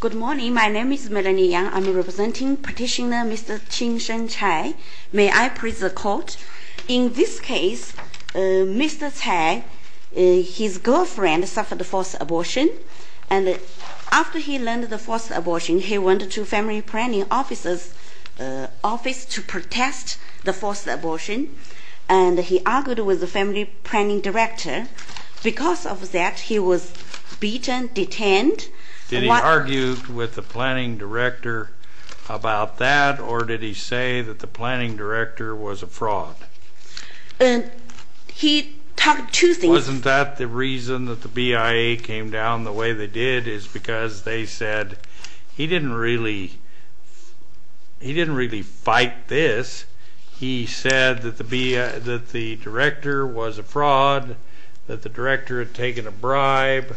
Good morning. My name is Melanie Yang. I'm representing petitioner Mr. Qingsheng Chai. May I present a court? In this case, Mr. Chai, his girlfriend suffered a forced abortion. And after he learned of the forced abortion, he went to family planning officer's office to protest the forced abortion. And he argued with the family planning director. Because of that, he was beaten, detained. Did he argue with the planning director about that? Or did he say that the planning director was a fraud? And he talked two things. Wasn't that the reason that the BIA came down the way they did? Is because they said, he didn't really fight this. He said that the director was a fraud, that the director had taken a bribe,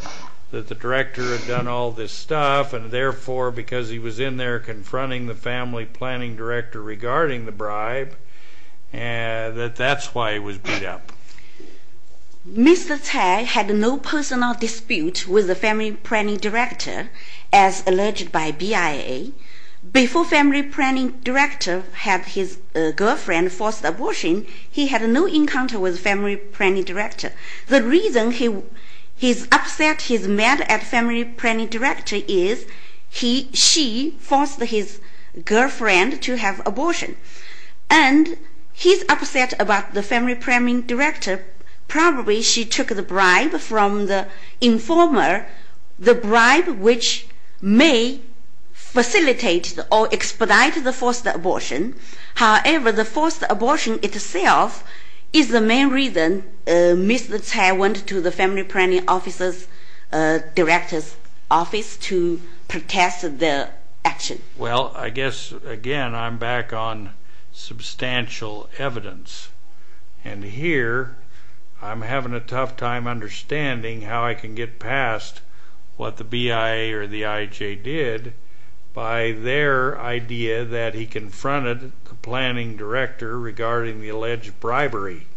that the director had done all this stuff. And therefore, because he was in there confronting the family planning director regarding the bribe, that that's why he was beat up. Mr. Chai had no personal dispute with the family planning director, as alleged by BIA. Before family planning director had his girlfriend forced abortion, he had no encounter with family planning director. The reason he's upset, he's mad at family planning director is she forced his girlfriend to have abortion. And he's upset about the family planning director. Probably she took the bribe from the informer, the bribe which may facilitate or expedite the forced abortion. However, the forced abortion itself is the main reason Mr. Chai went to the family planning officer's director's office to protest the action. Well, I guess, again, I'm back on substantial evidence. And here, I'm having a tough time understanding how I can get past what the BIA or the IJ did by their idea that he confronted the planning director regarding the alleged bribery,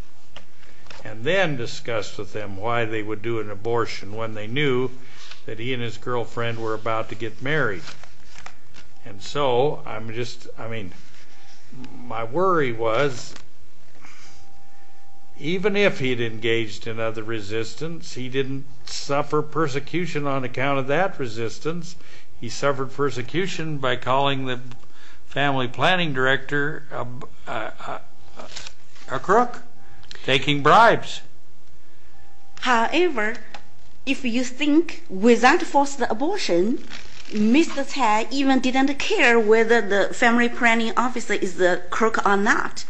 and then discussed with them why they would do an abortion when they knew that he and his girlfriend were about to get married. And so I'm just, I mean, my worry was even if he'd engaged in other resistance, he didn't suffer persecution on account of that resistance. He suffered persecution by calling the family planning director a crook, taking bribes. However, if you think without forced abortion, Mr. Chai even didn't care whether the family planning officer is a crook or not.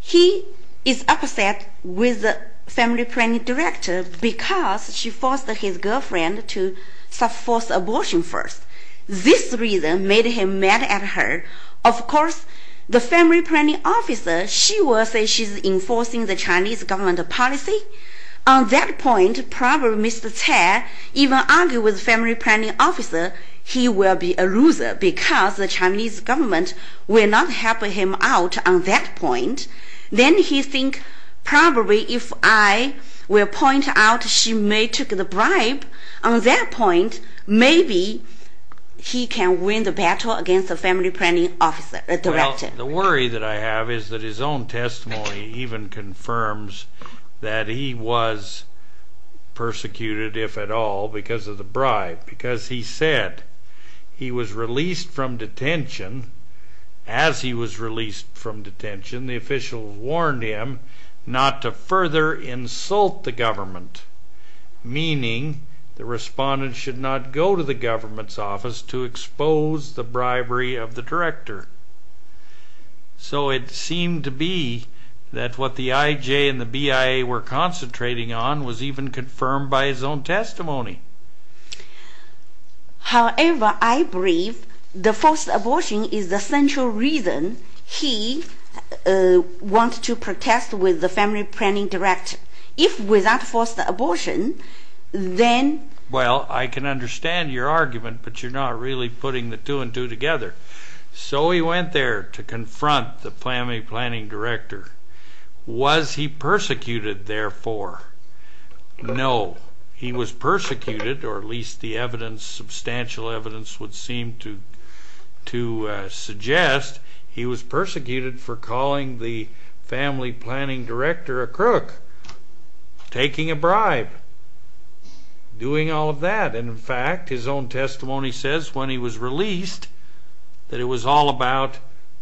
He is upset with the family planning director because she forced his girlfriend to force abortion first. This reason made him mad at her. Of course, the family planning officer, she will say she's enforcing the Chinese government policy. On that point, probably Mr. Chai even argue with family planning officer he will be a loser because the Chinese government will not help him out on that point. Then he think, probably if I will point out she may took the bribe, on that point, maybe he can win the battle against the family planning officer, director. Well, the worry that I have is that his own testimony even confirms that he was persecuted, if at all, because of the bribe. Because he said he was released from detention. As he was released from detention, the official warned him not to further insult the government. Meaning, the respondent should not go to the government's office to expose the bribery of the director. So it seemed to be that what the IJ and the BIA were concentrating on was even confirmed by his own testimony. However, I believe the forced abortion is the central reason he wants to protest with the family planning director. If without forced abortion, then? Well, I can understand your argument, but you're not really putting the two and two together. So he went there to confront the family planning director. Was he persecuted, therefore? No. He was persecuted, or at least the evidence, substantial evidence, would seem to suggest he was persecuted for calling the family planning director a crook, taking a bribe, doing all of that. And in fact, his own testimony says, when he was released, that it was all about,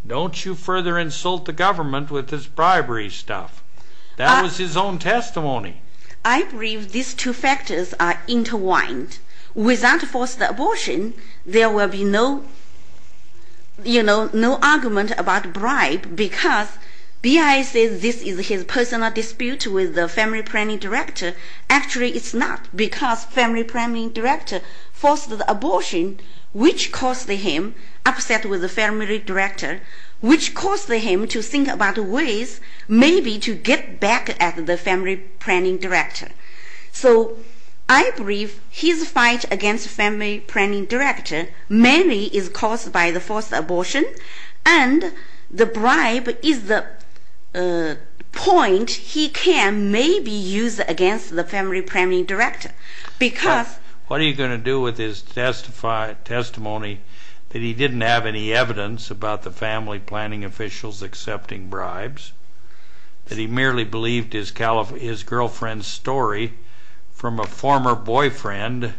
don't you further insult the government with this bribery stuff. That was his own testimony. I believe these two factors are intertwined. Without forced abortion, there will be no argument about bribe, because BIA says this is his personal dispute with the family planning director. Actually, it's not, because family planning director forced the abortion, which caused him upset with the family director, which caused him to think about ways maybe to get back at the family planning director. So I believe his fight against family planning director mainly is caused by the forced abortion, and the bribe is the point he can maybe use against the family planning director, because. What are you going to do with his testimony that he didn't have any evidence about the family planning officials accepting bribes, that he merely believed his girlfriend's story from a former boyfriend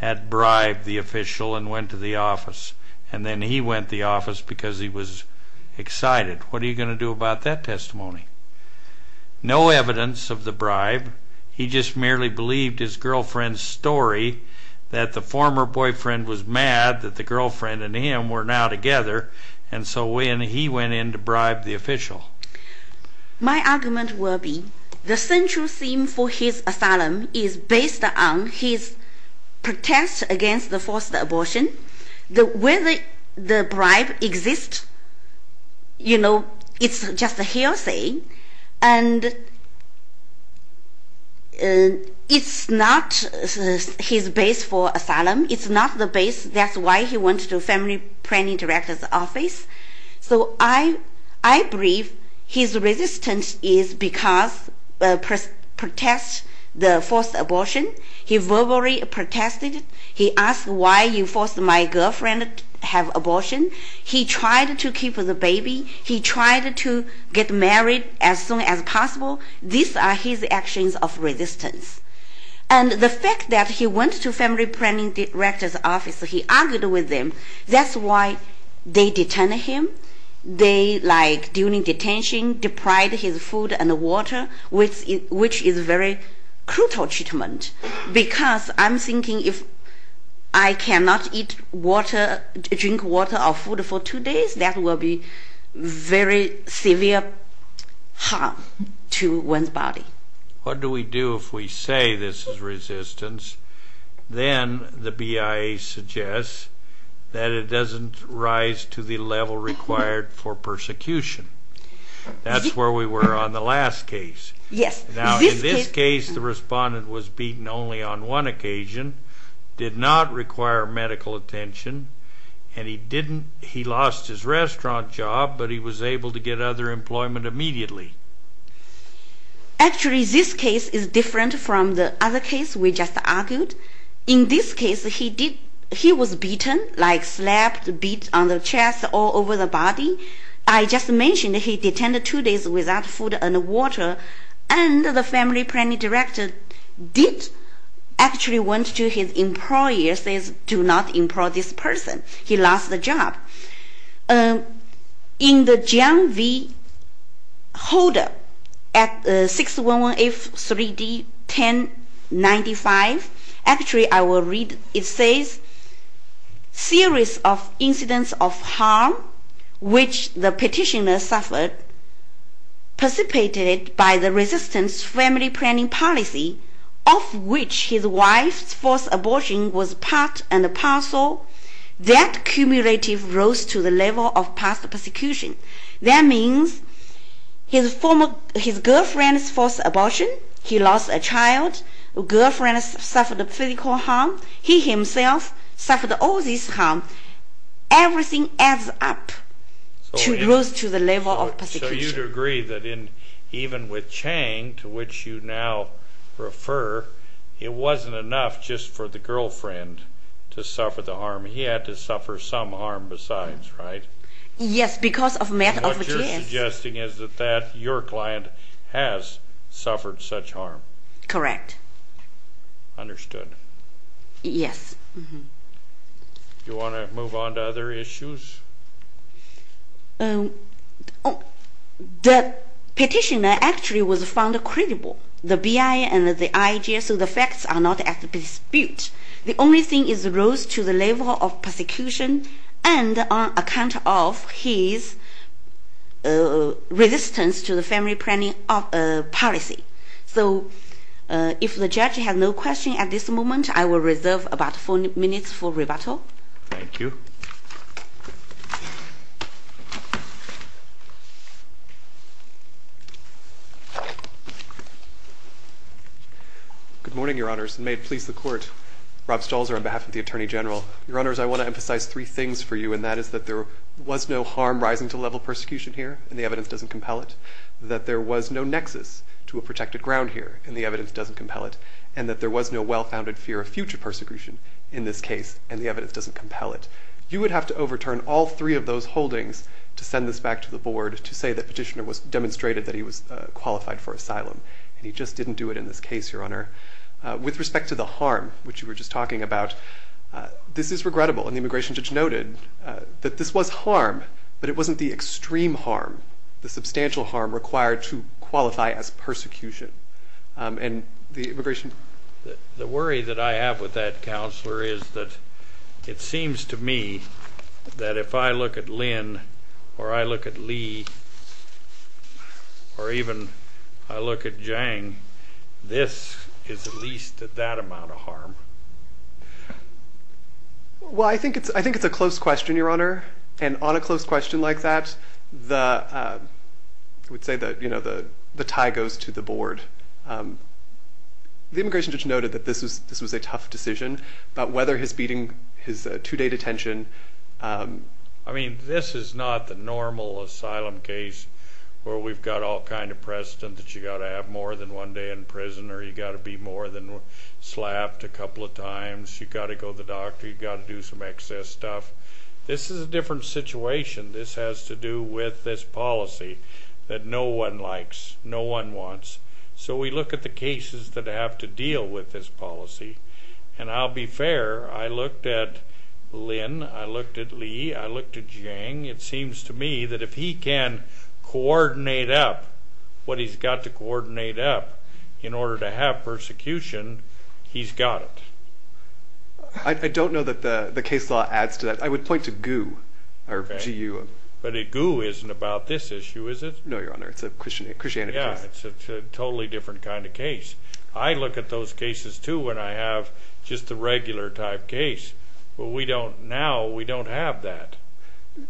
had bribed the official and went to the office, and then he went to the office because he was excited? What are you going to do about that testimony? No evidence of the bribe. He just merely believed his girlfriend's story, that the former boyfriend was mad that the girlfriend and him were now together, and so he went in to bribe the official. My argument will be the central theme for his asylum is based on his protest against the forced abortion. The way the bribe exists, you know, it's just a hearsay. And it's not his base for asylum. It's not the base. That's why he went to the family planning director's office. So I believe his resistance is because he protests the forced abortion. He verbally protested. He asked why you forced my girlfriend to have abortion. He tried to keep the baby. He tried to get married as soon as possible. These are his actions of resistance. And the fact that he went to family planning director's office, he argued with them. That's why they detained him. They, like, during detention, deprived his food and water, which is very crucial treatment because I'm I cannot eat water, drink water or food for two days. That will be very severe harm to one's body. What do we do if we say this is resistance? Then the BIA suggests that it doesn't rise to the level required for persecution. That's where we were on the last case. Yes. Now, in this case, the respondent was beaten only on one occasion, did not require medical attention, and he lost his restaurant job, but he was able to get other employment immediately. Actually, this case is different from the other case we just argued. In this case, he was beaten, like slapped, beat on the chest, all over the body. I just mentioned he detained two days without food and water. And the family planning director did actually went to his employer, says, do not employ this person. He lost the job. In the John V. Holder at 611F 3D 1095, actually, I will read. It says, series of incidents of harm which the petitioner suffered, precipitated by the resistance family planning policy, of which his wife's forced abortion was part and parcel, that cumulative rose to the level of past persecution. That means his girlfriend's forced abortion. He lost a child. Girlfriend suffered physical harm. He himself suffered all this harm. Everything adds up to rose to the level of persecution. So you'd agree that even with Chang, to which you now refer, it wasn't enough just for the girlfriend to suffer the harm. He had to suffer some harm besides, right? Yes, because of method of abuse. What you're suggesting is that your client has suffered such harm. Correct. Understood. Yes. Do you want to move on to other issues? The petitioner actually was found credible. The BI and the IJSO, the facts are not at dispute. The only thing is rose to the level of persecution and on account of his resistance to the family planning policy. So if the judge has no question at this moment, I will reserve about four minutes for rebuttal. Thank you. Good morning, Your Honours, and may it please the Court. Rob Stolzer on behalf of the Attorney General. Your Honours, I want to emphasize three things for you, and that is that there was no harm rising to the level of persecution here, and the evidence doesn't compel it. That there was no nexus to a protected ground here, and the evidence doesn't compel it. And that there was no well-founded fear of future persecution in this case, and the evidence doesn't compel it. You would have to overturn all three of those holdings to send this back to the board to say that petitioner demonstrated that he was qualified for asylum. And he just didn't do it in this case, Your Honour. With respect to the harm, which you were just talking about, this is regrettable. And the immigration judge noted that this was harm, but it wasn't the extreme harm, the substantial harm required to qualify as persecution. And the immigration. The worry that I have with that, Counselor, is that it seems to me that if I look at Lynn, or I look at Lee, or even I look at Jang, this is at least at that amount of harm. Well, I think it's a close question, Your Honour. And on a close question like that, I would say that the tie goes to the board. The immigration judge noted that this was a tough decision. But whether his beating his two-day detention. I mean, this is not the normal asylum case where we've got all kind of precedent that you've got to have more than one day in prison, or you've got to be slapped a couple of times. You've got to go to the doctor. You've got to do some excess stuff. This is a different situation. This has to do with this policy that no one likes. No one wants. So we look at the cases that have to deal with this policy. And I'll be fair, I looked at Lynn. I looked at Lee. I looked at Jang. It seems to me that if he can coordinate up what he's got to coordinate up in order to have persecution, he's got it. I don't know that the case law adds to that. I would point to GU. But GU isn't about this issue, is it? No, Your Honor, it's a Christianity case. Yeah, it's a totally different kind of case. I look at those cases, too, when I have just the regular type case. But now we don't have that.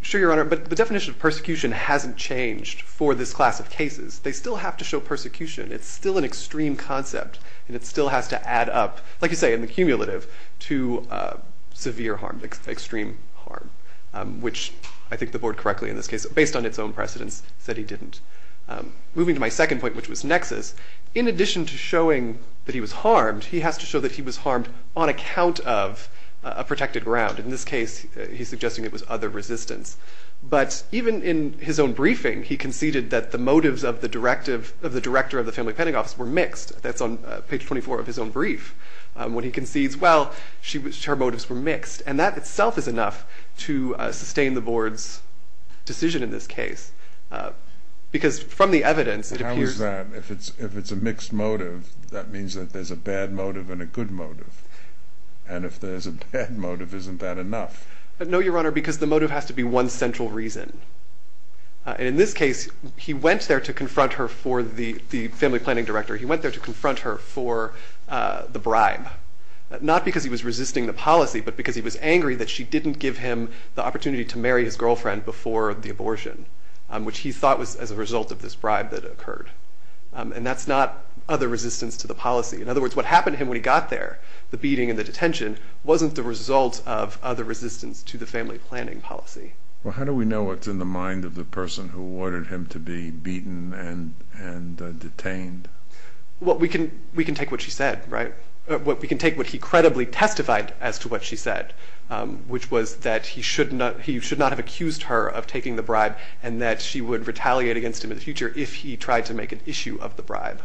Sure, Your Honor, but the definition of persecution hasn't changed for this class of cases. They still have to show persecution. It's still an extreme concept. And it still has to add up, like you say, in the cumulative, to severe harm, extreme harm, which I think the board correctly, in this case, based on its own precedents, said he didn't. Moving to my second point, which was nexus, in addition to showing that he was harmed, he has to show that he was harmed on account of a protected ground. In this case, he's suggesting it was other resistance. But even in his own briefing, he conceded that the motives of the director of the family penitentiary were mixed. That's on page 24 of his own brief when he concedes, well, her motives were mixed. And that itself is enough to sustain the board's decision in this case. Because from the evidence, it appears that if it's a mixed motive, that means that there's a bad motive and a good motive. And if there's a bad motive, isn't that enough? No, Your Honor, because the motive has to be one central reason. In this case, he went there to confront her for the family planning director. He went there to confront her for the bribe, not because he was resisting the policy, but because he was angry that she didn't give him the opportunity to marry his girlfriend before the abortion, which he thought was as a result of this bribe that occurred. And that's not other resistance to the policy. In other words, what happened to him when he got there, the beating and the detention, wasn't the result of other resistance to the family planning policy. Well, how do we know what's in the mind of the person who detained? Well, we can take what he credibly testified as to what she said, which was that he should not have accused her of taking the bribe and that she would retaliate against him in the future if he tried to make an issue of the bribe.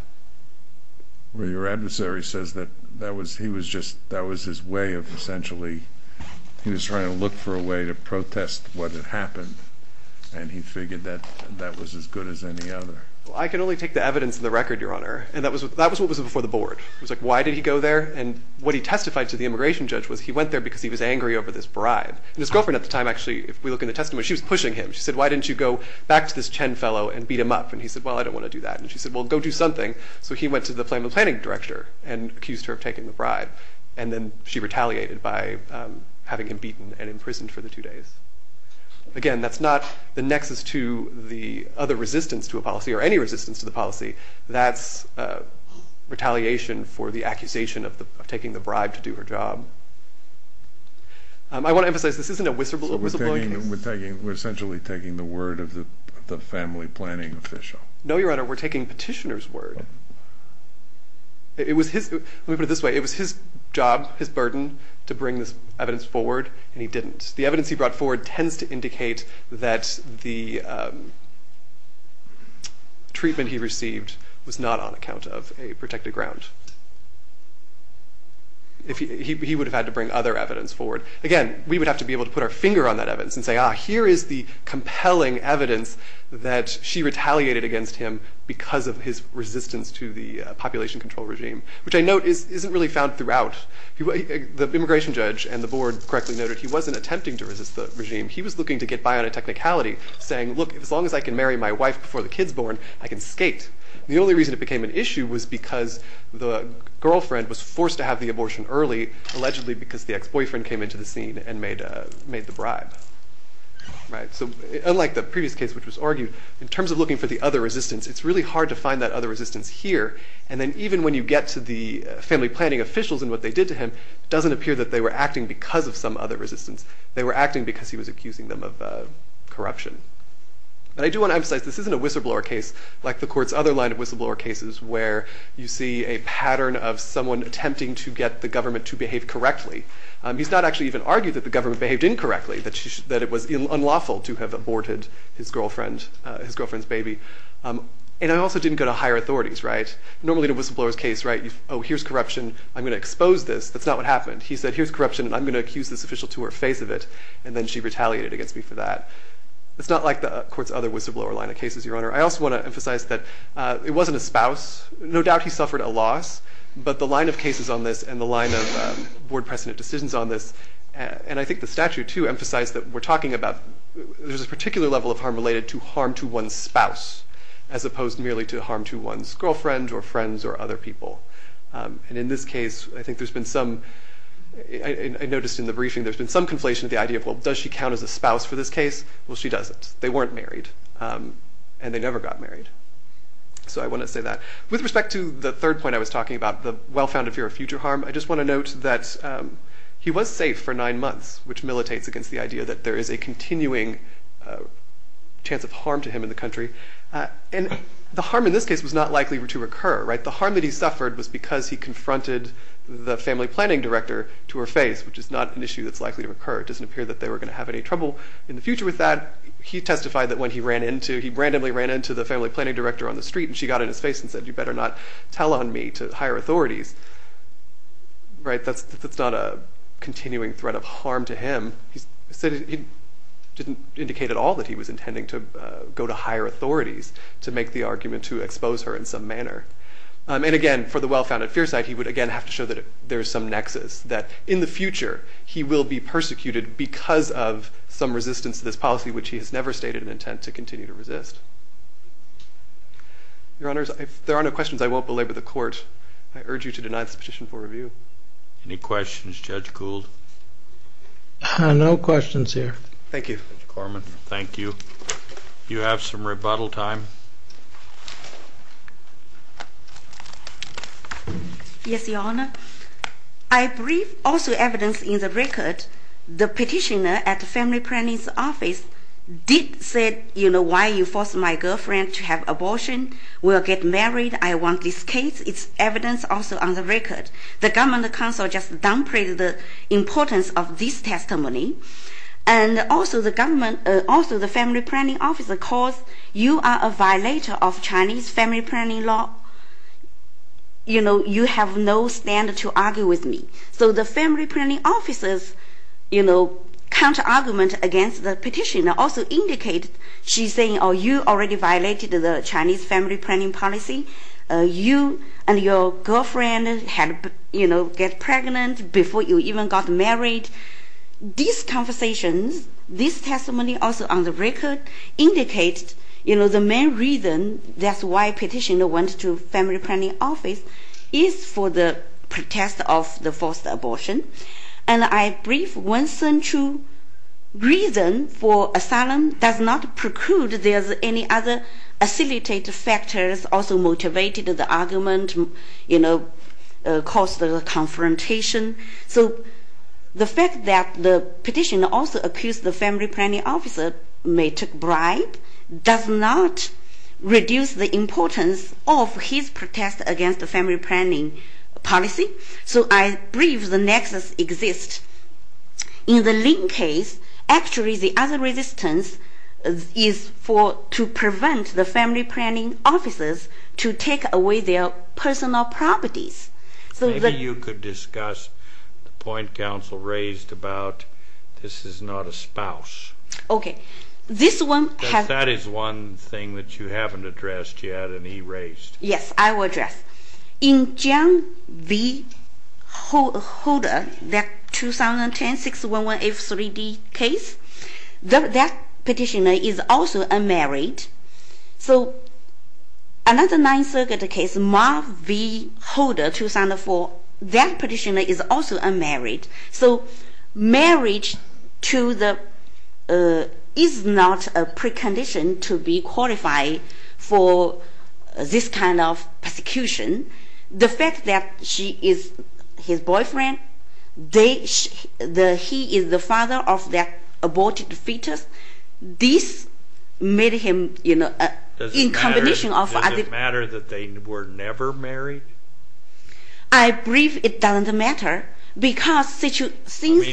Well, your adversary says that he was just, that was his way of essentially, he was trying to look for a way to protest what had happened. And he figured that that was as good as any other. I can only take the evidence of the record, Your Honor. And that was what was before the board. It was like, why did he go there? And what he testified to the immigration judge was he went there because he was angry over this bribe. And his girlfriend at the time, actually, if we look in the testament, she was pushing him. She said, why didn't you go back to this Chen fellow and beat him up? And he said, well, I don't want to do that. And she said, well, go do something. So he went to the family planning director and accused her of taking the bribe. And then she retaliated by having him beaten and imprisoned for the two days. Again, that's not the nexus to the other resistance to a policy or any resistance to the policy. That's retaliation for the accusation of taking the bribe to do her job. I want to emphasize, this isn't a whistleblower case. So we're essentially taking the word of the family planning official. No, Your Honor, we're taking petitioner's word. It was his job, his burden, to bring this evidence forward. And he didn't. The evidence he brought forward tends to indicate that the treatment he received was not on account of a protected ground. He would have had to bring other evidence forward. Again, we would have to be able to put our finger on that evidence and say, ah, here is the compelling evidence that she retaliated against him because of his resistance to the population control regime, which I note isn't really found throughout. The immigration judge and the board correctly noted he wasn't attempting to resist the regime. He was looking to get by on a technicality, saying, look, as long as I can marry my wife before the kid's born, I can skate. And the only reason it became an issue was because the girlfriend was forced to have the abortion early, allegedly because the ex-boyfriend came into the scene and made the bribe. So unlike the previous case, which was argued, in terms of looking for the other resistance, it's really hard to find that other resistance here. And then even when you get to the family planning officials and what they did to him, it doesn't appear that they were acting because of some other resistance. They were acting because he was accusing them of corruption. And I do want to emphasize, this isn't a whistleblower case, like the court's other line of whistleblower cases, where you see a pattern of someone attempting to get the government to behave correctly. He's not actually even argued that the government behaved incorrectly, that it was unlawful to have aborted his girlfriend's baby. And it also didn't go to higher authorities, right? Normally in a whistleblower's case, right, oh, here's corruption. I'm going to expose this. That's not what happened. He said, here's corruption, and I'm going to accuse this official to her face of it. And then she retaliated against me for that. It's not like the court's other whistleblower line of cases, Your Honor. I also want to emphasize that it wasn't a spouse. No doubt he suffered a loss, but the line of cases on this and the line of board precedent decisions on this, and I think the statute, too, emphasized that we're talking about there's a particular level of harm related to harm to one's spouse, as opposed merely to harm to one's girlfriend or friends or other people. And in this case, I think there's been some, I noticed in the briefing, there's been some conflation of the idea of, well, does she count as a spouse for this case? Well, she doesn't. They weren't married, and they never got married. So I want to say that. With respect to the third point I was talking about, the well-founded fear of future harm, I just want to note that he was safe for nine months, which militates against the idea that there is a continuing chance of harm to him in the country. And the harm in this case was not likely to occur, right? The harm that he suffered was because he confronted the family planning director to her face, which is not an issue that's likely to occur. It doesn't appear that they were going to have any trouble in the future with that. He testified that when he ran into, he randomly ran into the family planning director on the street, and she got in his face and said, you better not tell on me to higher authorities. Right, that's not a continuing threat of harm to him. He didn't indicate at all that he was intending to go to higher authorities to make the argument to expose her in some manner. And again, for the well-founded fear side, he would, again, have to show that there is some nexus. That in the future, he will be persecuted because of some resistance to this policy, which he has never stated an intent to continue to resist. Your Honors, if there are no questions, I won't belabor the court. I urge you to deny this petition for review. Any questions, Judge Gould? No questions here. Thank you. Judge Corman, thank you. You have some rebuttal time. Yes, Your Honor. I briefed also evidence in the record. The petitioner at the family planning's office did say, you know, why you forced my girlfriend to have abortion, will get married. I want this case. It's evidence also on the record. The government counsel just downplayed the importance of this testimony. And also, the family planning officer calls you are a violator of Chinese family planning law. You know, you have no stand to argue with me. So the family planning officer's counter-argument against the petitioner also indicated, she's saying, oh, you already violated the Chinese family planning policy. You and your girlfriend get pregnant before you even got married. These conversations, this testimony also on the record, indicates the main reason that's why petitioner went to the family planning office is for the protest of the forced abortion. And I briefed one central reason for asylum does not preclude there's any other facilitator factors also motivated the argument, caused the confrontation. So the fact that the petitioner also accused the family planning officer may take bribe does not reduce the importance of his protest against the family planning policy. So I believe the nexus exists. In the Lin case, actually, the other resistance is to prevent the family planning officers to take away their personal properties. So that you could discuss the point counsel raised about this is not a spouse. OK. This one has. That is one thing that you haven't addressed yet and erased. Yes, I will address. In John V. Holder, that 2010 611F3D case, that petitioner is also unmarried. So another Ninth Circuit case, Marv V. Holder, 2004, that petitioner is also unmarried. So marriage is not a precondition to be qualified for this kind of persecution. The fact that she is his boyfriend, he is the father of that aborted fetus, this made him in combination of other. Does it matter that they were never married? I believe it doesn't matter. I mean,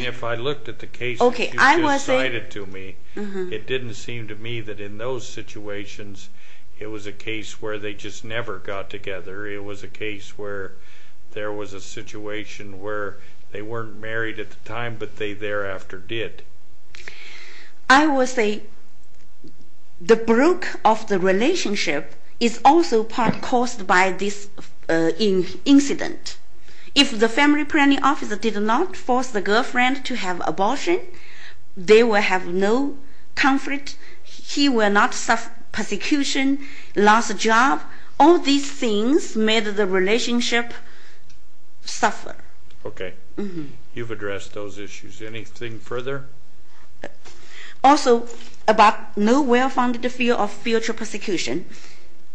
if I looked at the case that you just cited to me, it didn't seem to me that in those situations it was a case where they just never got together. It was a case where there was a situation where they weren't married at the time, but they thereafter did. I will say the broke of the relationship is also part caused by this incident. If the family planning officer did not force the girlfriend to have abortion, they will have no conflict. He will not suffer persecution, lost a job. All these things made the relationship suffer. OK. You've addressed those issues. Anything further? Also, about no well-founded fear of future persecution,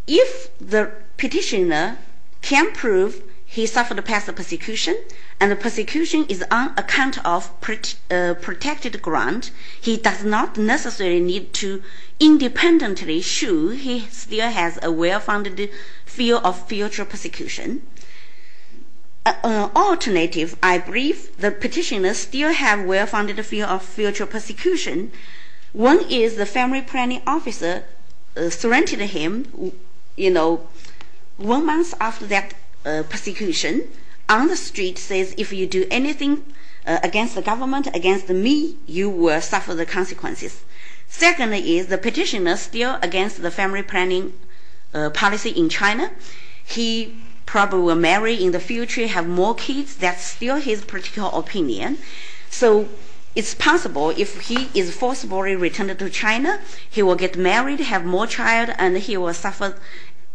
if the petitioner can prove he suffered past persecution and the persecution is on account of protected grant, he does not necessarily need to independently show he still has a well-founded fear of future persecution. Alternative, I believe the petitioner still have well-founded fear of future persecution. One is the family planning officer threatened him one month after that persecution on the street says, if you do anything against the government, against me, you will suffer the consequences. Secondly is the petitioner still against the family planning policy in China. He probably will marry in the future, have more kids. That's still his particular opinion. So it's possible if he is forcibly returned to China, he will get married, have more child, and he will suffer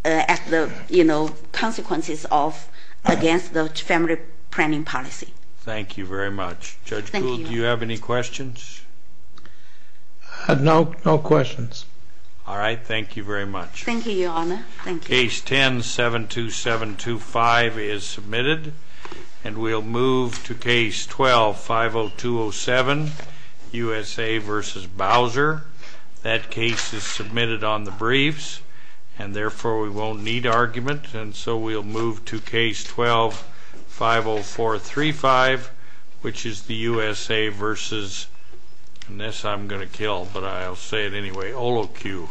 the consequences of against the family planning policy. Thank you very much. Judge Gould, do you have any questions? No, no questions. All right, thank you very much. Thank you, Your Honor. Case 10-72725 is submitted. And we'll move to case 12-50207, USA versus Bowser. That case is submitted on the briefs. And therefore, we won't need argument. And so we'll move to case 12-50435, which is the USA versus, unless I'm going to kill, but I'll say it anyway, OLOQ.